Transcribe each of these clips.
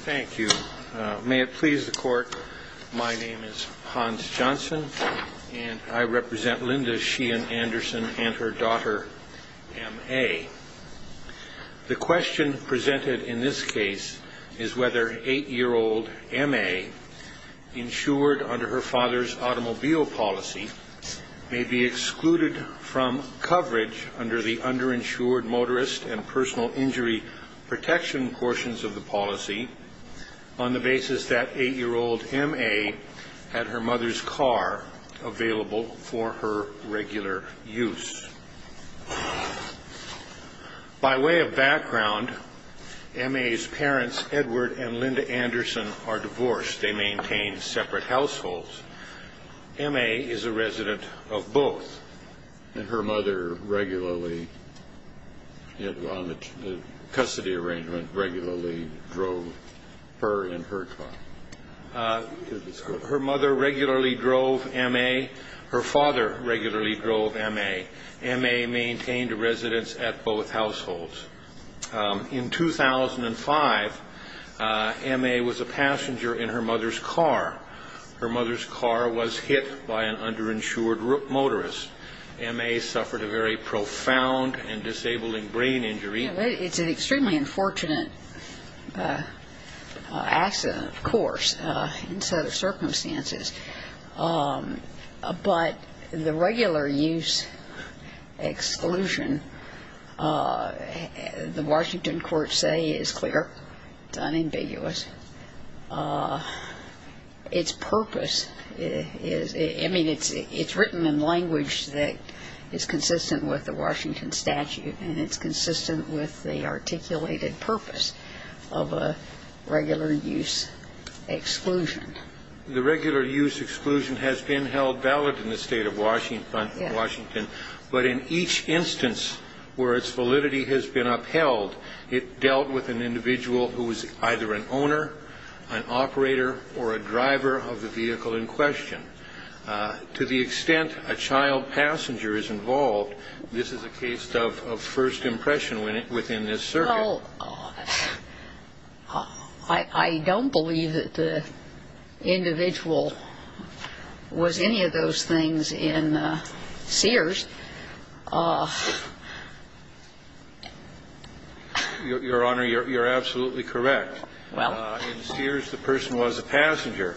Thank you. May it please the Court, my name is Hans Johnson, and I represent Linda Sheehan Anderson and her daughter, M.A. The question presented in this case is whether eight-year-old M.A., insured under her father's automobile policy, may be excluded from coverage under the underinsured motorist and personal injury protection portions of the policy on the basis that eight-year-old M.A. had her mother's car available for her regular use. By way of background, M.A.'s parents, Edward and Linda Anderson, are divorced. They maintain separate households. M.A. is a resident of both. And her mother regularly, on the custody arrangement, regularly drove her and her car. Her mother regularly drove M.A. Her father regularly drove M.A. M.A. maintained a residence at both households. In 2005, M.A. was a passenger in her mother's car. Her mother's car was hit by an underinsured motorist. M.A. suffered a very profound and disabling brain injury. It's an extremely unfortunate accident, of course, in certain circumstances. But the regular use exclusion, the Washington courts say, is clear. It's unambiguous. Its purpose is – I mean, it's written in language that is consistent with the Washington statute, and it's consistent with the articulated purpose of a regular use exclusion. The regular use exclusion has been held valid in the state of Washington, but in each instance where its validity has been upheld, it dealt with an individual who was either an owner, an operator, or a driver of the vehicle in question. To the extent a child passenger is involved, this is a case of first impression within this circuit. Well, I don't believe that the individual was any of those things in Sears. Your Honor, you're absolutely correct. Well. In Sears, the person was a passenger.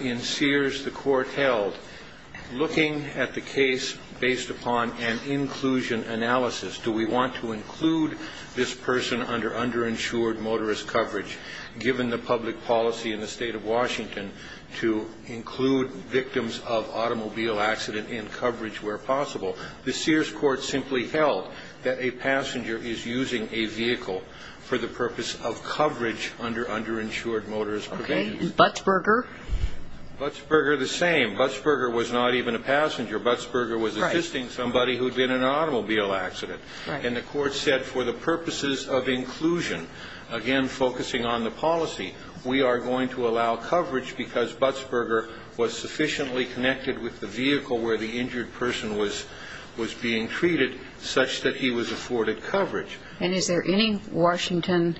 In Sears, the court held, looking at the case based upon an inclusion analysis, do we want to include this person under underinsured motorist coverage, given the public policy in the state of Washington to include victims of automobile accident in coverage where possible? The Sears court simply held that a passenger is using a vehicle for the purpose of coverage under underinsured motorist prevention. Okay. And Buttsberger? Buttsberger the same. Buttsberger was not even a passenger. Buttsberger was assisting somebody who'd been in an automobile accident. Right. And the court said for the purposes of inclusion, again, focusing on the policy, we are going to allow coverage because Buttsberger was sufficiently connected with the vehicle where the injured person was being treated such that he was afforded coverage. And is there any Washington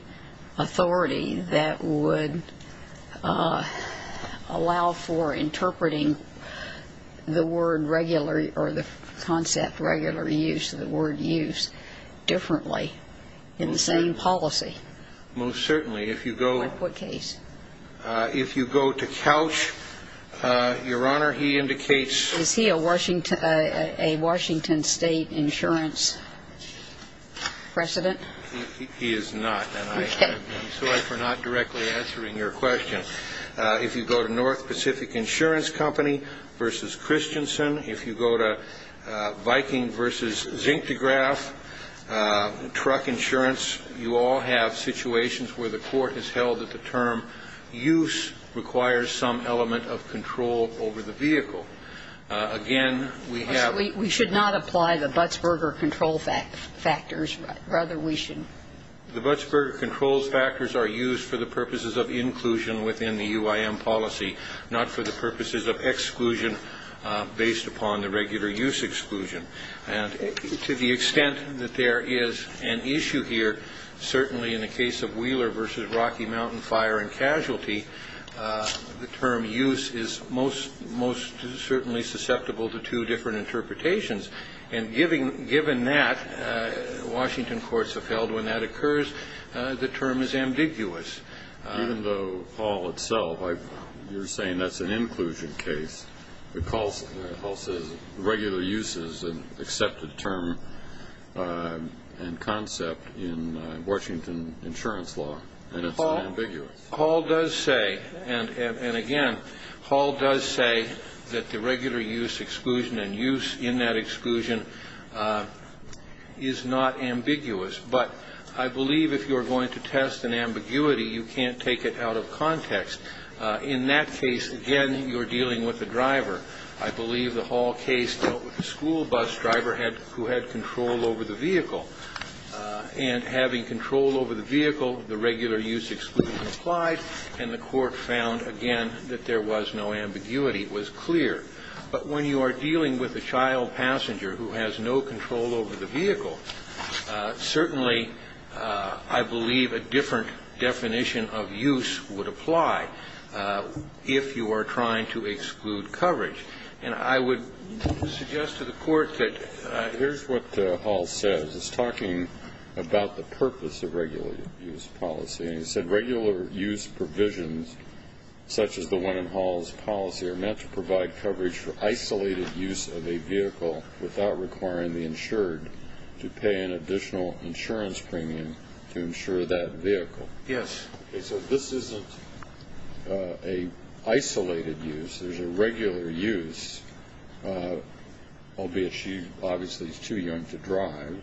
authority that would allow for interpreting the word regular or the concept regular use of the word use differently in the same policy? Most certainly. If you go. In what case? If you go to Couch, Your Honor, he indicates. Is he a Washington, a Washington state insurance president? He is not. Okay. I'm sorry for not directly answering your question. If you go to North Pacific Insurance Company versus Christensen, if you go to Viking versus Zincograph, truck insurance, you all have situations where the court has held that the term use requires some element of control over the vehicle. Again, we have. We should not apply the Buttsberger control factors. Rather, we should. The Buttsberger control factors are used for the purposes of inclusion within the UIM policy, not for the purposes of exclusion based upon the regular use exclusion. And to the extent that there is an issue here, certainly in the case of Wheeler versus Rocky Mountain Fire and Casualty, the term use is most certainly susceptible to two different interpretations. And given that, Washington courts have held when that occurs, the term is ambiguous. Even though Hall itself, you're saying that's an inclusion case. Hall says regular use is an accepted term and concept in Washington insurance law, and it's ambiguous. Hall does say, and again, Hall does say that the regular use exclusion and use in that exclusion is not ambiguous. But I believe if you're going to test an ambiguity, you can't take it out of context. In that case, again, you're dealing with the driver. I believe the Hall case dealt with the school bus driver who had control over the vehicle. And having control over the vehicle, the regular use exclusion applied, and the court found, again, that there was no ambiguity. It was clear. But when you are dealing with a child passenger who has no control over the vehicle, certainly I believe a different definition of use would apply if you are trying to exclude coverage. And I would suggest to the Court that here's what Hall says. It's talking about the purpose of regular use policy. He said regular use provisions such as the one in Hall's policy are meant to provide coverage for isolated use of a vehicle without requiring the insured to pay an additional insurance premium to insure that vehicle. Yes. So this isn't an isolated use. There's a regular use, albeit she obviously is too young to drive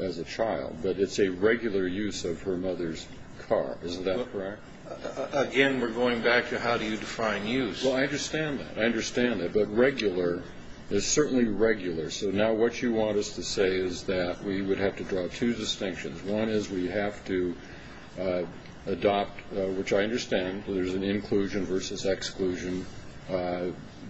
as a child, but it's a regular use of her mother's car. Is that correct? Again, we're going back to how do you define use. Well, I understand that. I understand that. But regular is certainly regular. So now what you want us to say is that we would have to draw two distinctions. One is we have to adopt, which I understand, there's an inclusion versus exclusion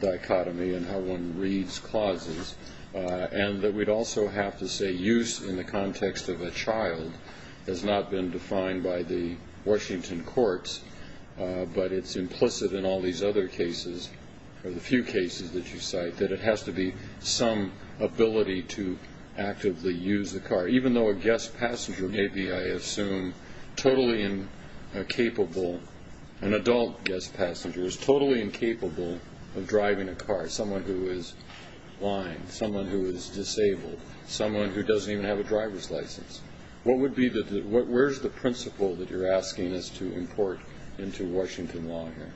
dichotomy in how one reads clauses, and that we'd also have to say use in the context of a child has not been defined by the Washington courts, but it's implicit in all these other cases or the few cases that you cite that it has to be some ability to actively use the car. Even though a guest passenger may be, I assume, totally incapable, an adult guest passenger is totally incapable of driving a car, someone who is blind, someone who is disabled, someone who doesn't even have a driver's license. Where's the principle that you're asking us to import into Washington law here?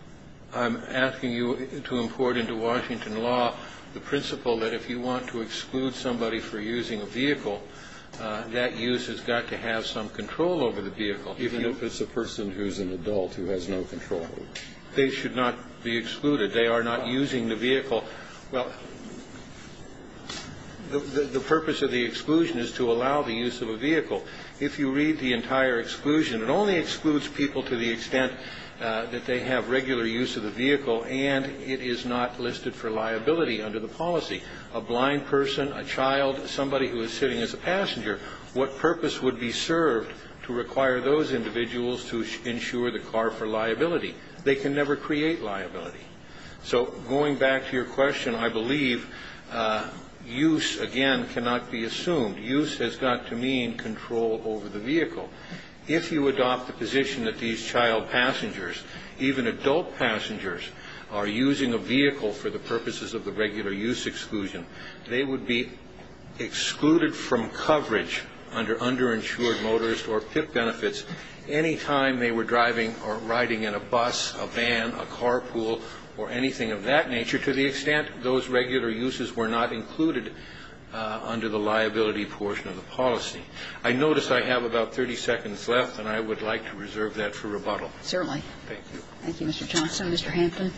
I'm asking you to import into Washington law the principle that if you want to exclude somebody for using a vehicle, that use has got to have some control over the vehicle. Even if it's a person who's an adult who has no control over it. They should not be excluded. They are not using the vehicle. Well, the purpose of the exclusion is to allow the use of a vehicle. If you read the entire exclusion, it only excludes people to the extent that they have regular use of the vehicle, and it is not listed for liability under the policy. A blind person, a child, somebody who is sitting as a passenger, what purpose would be served to require those individuals to insure the car for liability? They can never create liability. So going back to your question, I believe use, again, cannot be assumed. Use has got to mean control over the vehicle. If you adopt the position that these child passengers, even adult passengers, are using a vehicle for the purposes of the regular use exclusion, they would be excluded from coverage under underinsured motorist or PIP benefits any time they were driving or riding in a bus, a van, a carpool, or anything of that nature, to the extent those regular uses were not included under the liability portion of the policy. I notice I have about 30 seconds left, and I would like to reserve that for rebuttal. Certainly. Thank you. Thank you, Mr. Johnson. Mr. Hampton.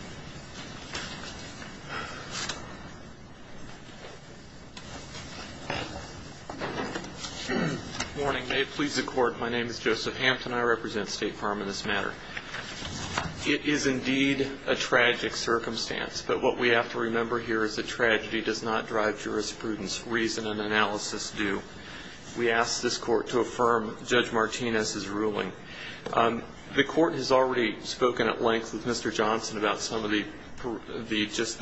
Warning. May it please the Court. My name is Joseph Hampton. I represent State Farm in this matter. It is indeed a tragic circumstance, but what we have to remember here is that tragedy does not drive jurisprudence. Reason and analysis do. We ask this Court to affirm Judge Martinez's ruling. The Court has already spoken at length with Mr. Johnson about some of the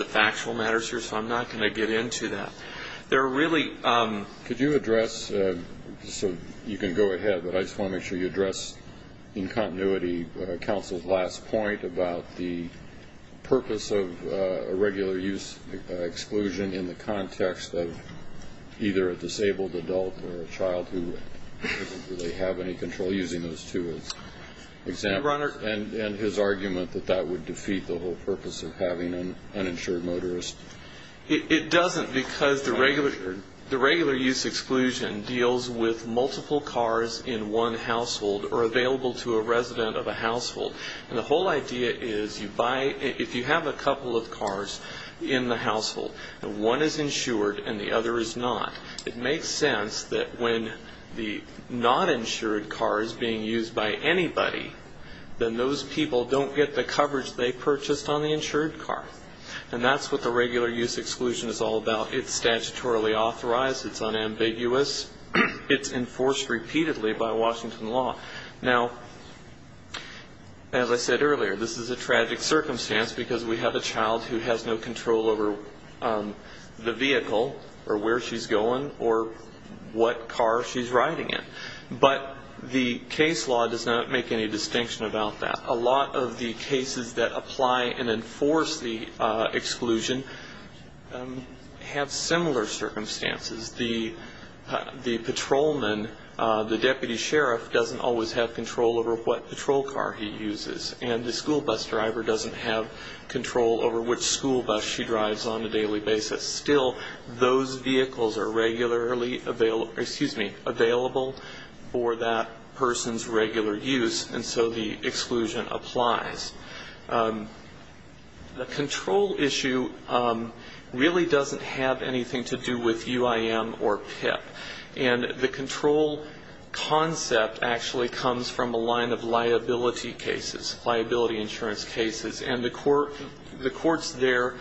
factual matters here, so I'm not going to get into that. There are really ‑‑ about the purpose of a regular use exclusion in the context of either a disabled adult or a child who doesn't really have any control using those two as examples, and his argument that that would defeat the whole purpose of having an uninsured motorist. It doesn't because the regular use exclusion deals with multiple cars in one household or available to a resident of a household. And the whole idea is if you have a couple of cars in the household, and one is insured and the other is not, it makes sense that when the noninsured car is being used by anybody, then those people don't get the coverage they purchased on the insured car. And that's what the regular use exclusion is all about. It's statutorily authorized. It's unambiguous. It's enforced repeatedly by Washington law. Now, as I said earlier, this is a tragic circumstance because we have a child who has no control over the vehicle or where she's going or what car she's riding in. But the case law does not make any distinction about that. A lot of the cases that apply and enforce the exclusion have similar circumstances. The patrolman, the deputy sheriff, doesn't always have control over what patrol car he uses. And the school bus driver doesn't have control over which school bus she drives on a daily basis. Still, those vehicles are regularly available for that person's regular use, and so the exclusion applies. The control issue really doesn't have anything to do with UIM or PIP. And the control concept actually comes from a line of liability cases, liability insurance cases, and the courts there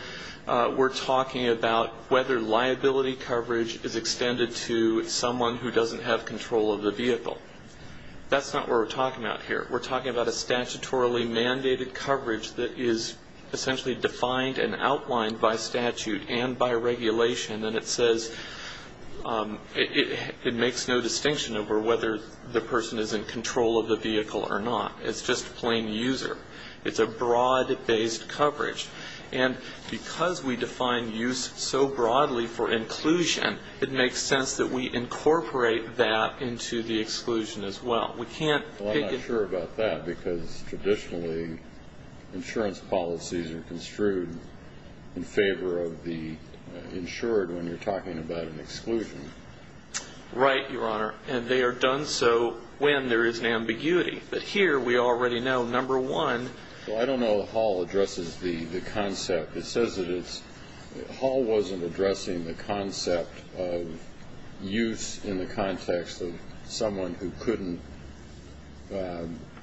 were talking about whether liability coverage is extended to someone who doesn't have control of the vehicle. That's not what we're talking about here. We're talking about a statutorily mandated coverage that is essentially defined and outlined by statute and by regulation, and it says it makes no distinction over whether the person is in control of the vehicle or not. It's just plain user. It's a broad-based coverage. And because we define use so broadly for inclusion, it makes sense that we incorporate that into the exclusion as well. Well, I'm not sure about that, because traditionally insurance policies are construed in favor of the insured when you're talking about an exclusion. Right, Your Honor, and they are done so when there is an ambiguity. But here we already know, number one. Well, I don't know if Hall addresses the concept. It says that Hall wasn't addressing the concept of use in the context of someone who couldn't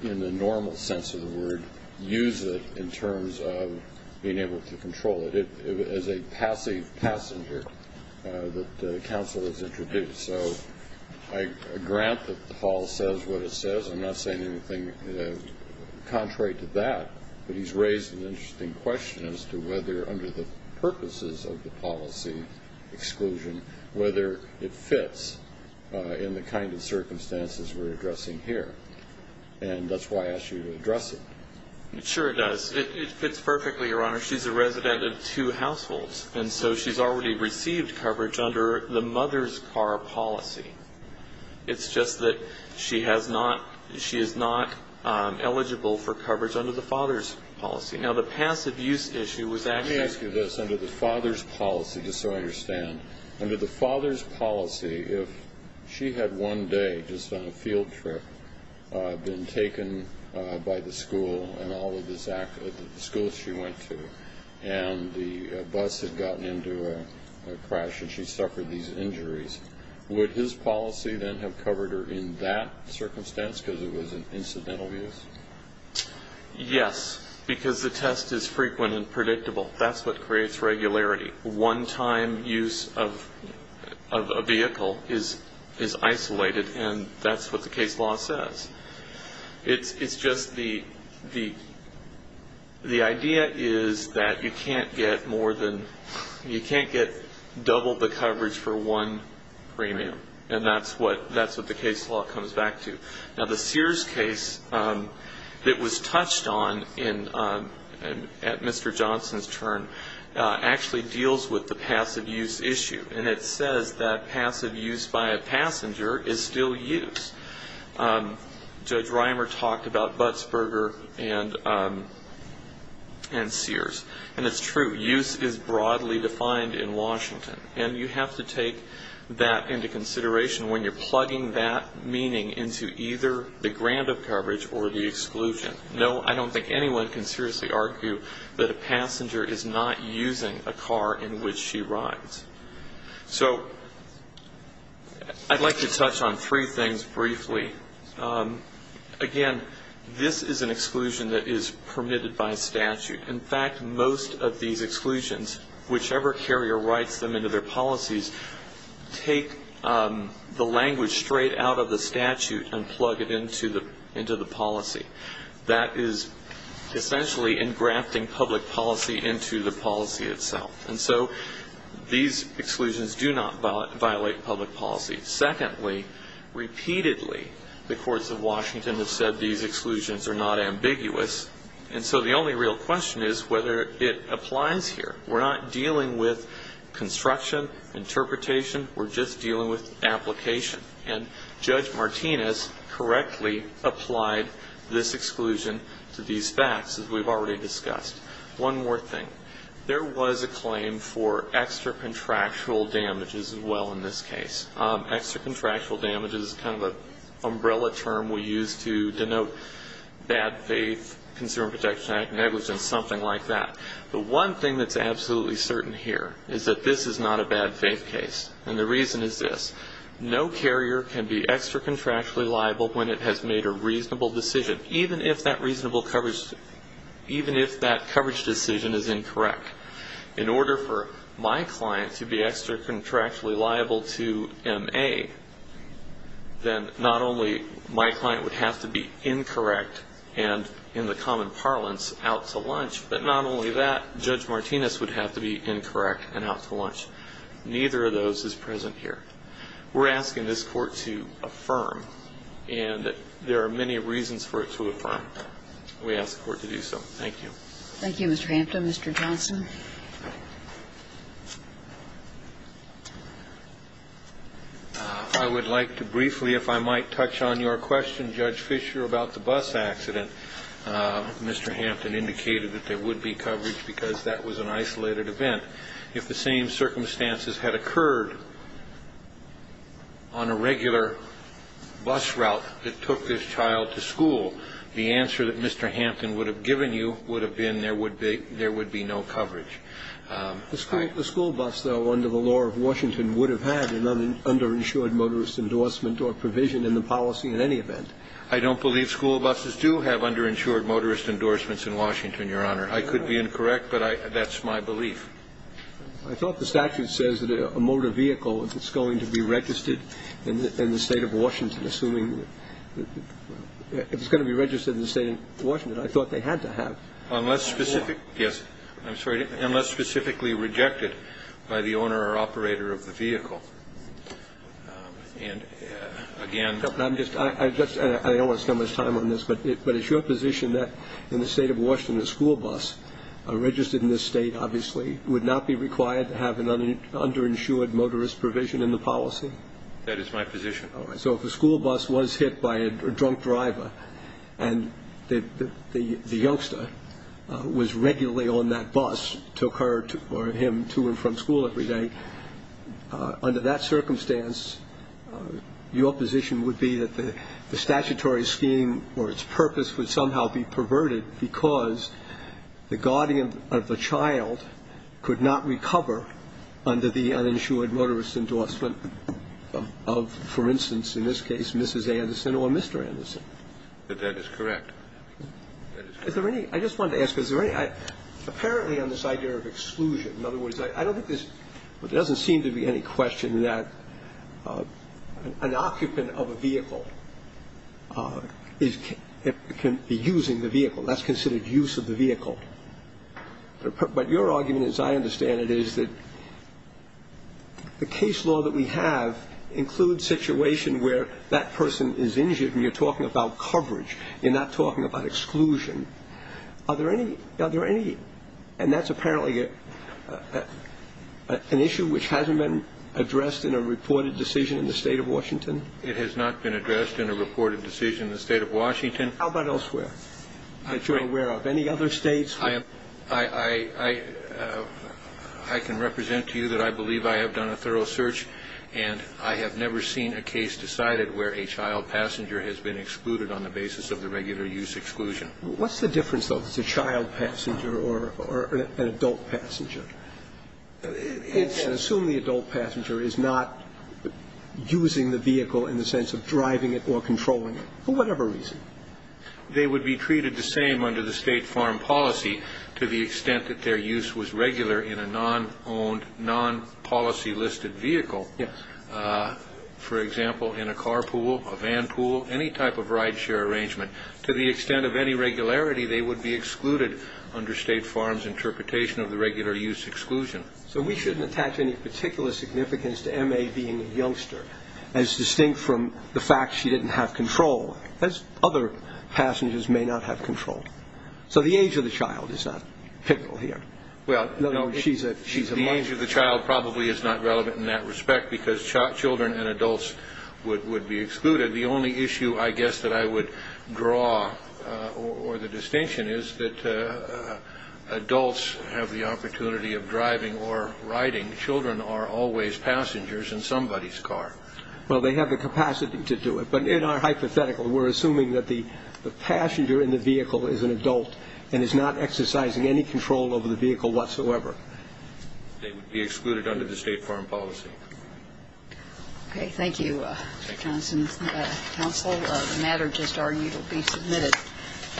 in the normal sense of the word use it in terms of being able to control it. It was a passive passenger that counsel has introduced. So I grant that Hall says what it says. I'm not saying anything contrary to that, but he's raised an interesting question as to whether under the purposes of the policy exclusion, whether it fits in the kind of circumstances we're addressing here. And that's why I asked you to address it. It sure does. It fits perfectly, Your Honor. She's a resident of two households, and so she's already received coverage under the mother's car policy. It's just that she has not ‑‑ she is not eligible for coverage under the father's policy. Now, the passive use issue was actually ‑‑ Let me ask you this. Under the father's policy, just so I understand, under the father's policy, if she had one day just on a field trip been taken by the school and all of the schools she went to, and the bus had gotten into a crash and she suffered these injuries, would his policy then have covered her in that circumstance because it was an incidental use? Yes, because the test is frequent and predictable. That's what creates regularity. One‑time use of a vehicle is isolated, and that's what the case law says. It's just the idea is that you can't get more than ‑‑ you can't get double the coverage for one premium, and that's what the case law comes back to. Now, the Sears case that was touched on at Mr. Johnson's turn actually deals with the passive use issue, and it says that passive use by a passenger is still use. Judge Reimer talked about Butzberger and Sears, and it's true. Use is broadly defined in Washington, and you have to take that into consideration when you're plugging that meaning into either the grant of coverage or the exclusion. No, I don't think anyone can seriously argue that a passenger is not using a car in which she rides. So I'd like to touch on three things briefly. Again, this is an exclusion that is permitted by statute. In fact, most of these exclusions, whichever carrier writes them into their policies, take the language straight out of the statute and plug it into the policy. That is essentially engrafting public policy into the policy itself. And so these exclusions do not violate public policy. Secondly, repeatedly the courts of Washington have said these exclusions are not ambiguous, and so the only real question is whether it applies here. We're not dealing with construction, interpretation. We're just dealing with application. And Judge Martinez correctly applied this exclusion to these facts, as we've already discussed. One more thing. There was a claim for extra contractual damages as well in this case. Extra contractual damages is kind of an umbrella term we use to denote bad faith, consumer protection act negligence, something like that. The one thing that's absolutely certain here is that this is not a bad faith case, and the reason is this. No carrier can be extra contractually liable when it has made a reasonable decision, even if that coverage decision is incorrect. In order for my client to be extra contractually liable to MA, then not only my client would have to be incorrect and in the common parlance out to lunch, but not only that, Judge Martinez would have to be incorrect and out to lunch. Neither of those is present here. We're asking this Court to affirm, and there are many reasons for it to affirm. We ask the Court to do so. Thank you. Thank you, Mr. Hampton. Mr. Johnson. I would like to briefly, if I might, touch on your question, Judge Fischer, about the bus accident. Mr. Hampton indicated that there would be coverage because that was an isolated event. If the same circumstances had occurred on a regular bus route that took this child to school, the answer that Mr. Hampton would have given you would have been there would be no coverage. The school bus, though, under the law of Washington, would have had an underinsured motorist endorsement or provision in the policy in any event. I don't believe school buses do have underinsured motorist endorsements in Washington, Your Honor. I could be incorrect, but that's my belief. I thought the statute says that a motor vehicle, if it's going to be registered in the State of Washington, assuming it's going to be registered in the State of Washington, I thought they had to have. Unless specifically rejected by the owner or operator of the vehicle. And again. I don't want to spend much time on this, but it's your position that in the State of Washington, a school bus registered in this State, obviously, would not be required to have an underinsured motorist provision in the policy? That is my position. All right. So if a school bus was hit by a drunk driver and the youngster was regularly on that bus, took her or him to and from school every day, under that circumstance, your position would be that the statutory scheme or its purpose would somehow be perverted because the guardian of the child could not recover under the uninsured motorist endorsement of, for instance, in this case, Mrs. Anderson or Mr. Anderson? That is correct. Is there any ñ I just wanted to ask, is there any ñ apparently on this idea of exclusion, in other words, I don't think there's ñ there doesn't seem to be any question that an occupant of a vehicle can be using the vehicle. That's considered use of the vehicle. But your argument, as I understand it, is that the case law that we have includes situation where that person is injured and you're talking about coverage. You're not talking about exclusion. Are there any ñ and that's apparently an issue which hasn't been addressed in a reported decision in the State of Washington? It has not been addressed in a reported decision in the State of Washington. How about elsewhere that you're aware of? Any other states? I can represent to you that I believe I have done a thorough search and I have never seen a case decided where a child passenger has been excluded on the basis of the regular use exclusion. What's the difference, though, if it's a child passenger or an adult passenger? It's ñ Assume the adult passenger is not using the vehicle in the sense of driving it or controlling it, for whatever reason. They would be treated the same under the State foreign policy to the extent that their regular use was regular in a non-owned, non-policy listed vehicle. Yes. For example, in a car pool, a van pool, any type of rideshare arrangement. To the extent of any regularity, they would be excluded under State farms' interpretation of the regular use exclusion. So we shouldn't attach any particular significance to M.A. being a youngster as distinct from the fact she didn't have control, as other passengers may not have control. So the age of the child is not pivotal here. Well, no. She's a mother. The age of the child probably is not relevant in that respect because children and adults would be excluded. The only issue I guess that I would draw or the distinction is that adults have the opportunity of driving or riding. Children are always passengers in somebody's car. Well, they have the capacity to do it. But in our hypothetical, we're assuming that the passenger in the vehicle is an adult and is not exercising any control over the vehicle whatsoever. They would be excluded under the State foreign policy. Okay. Thank you, Mr. Johnson. Counsel, the matter just argued will be submitted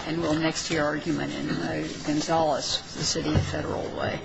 and will next hear argument in Gonzales, the city of Federal Way.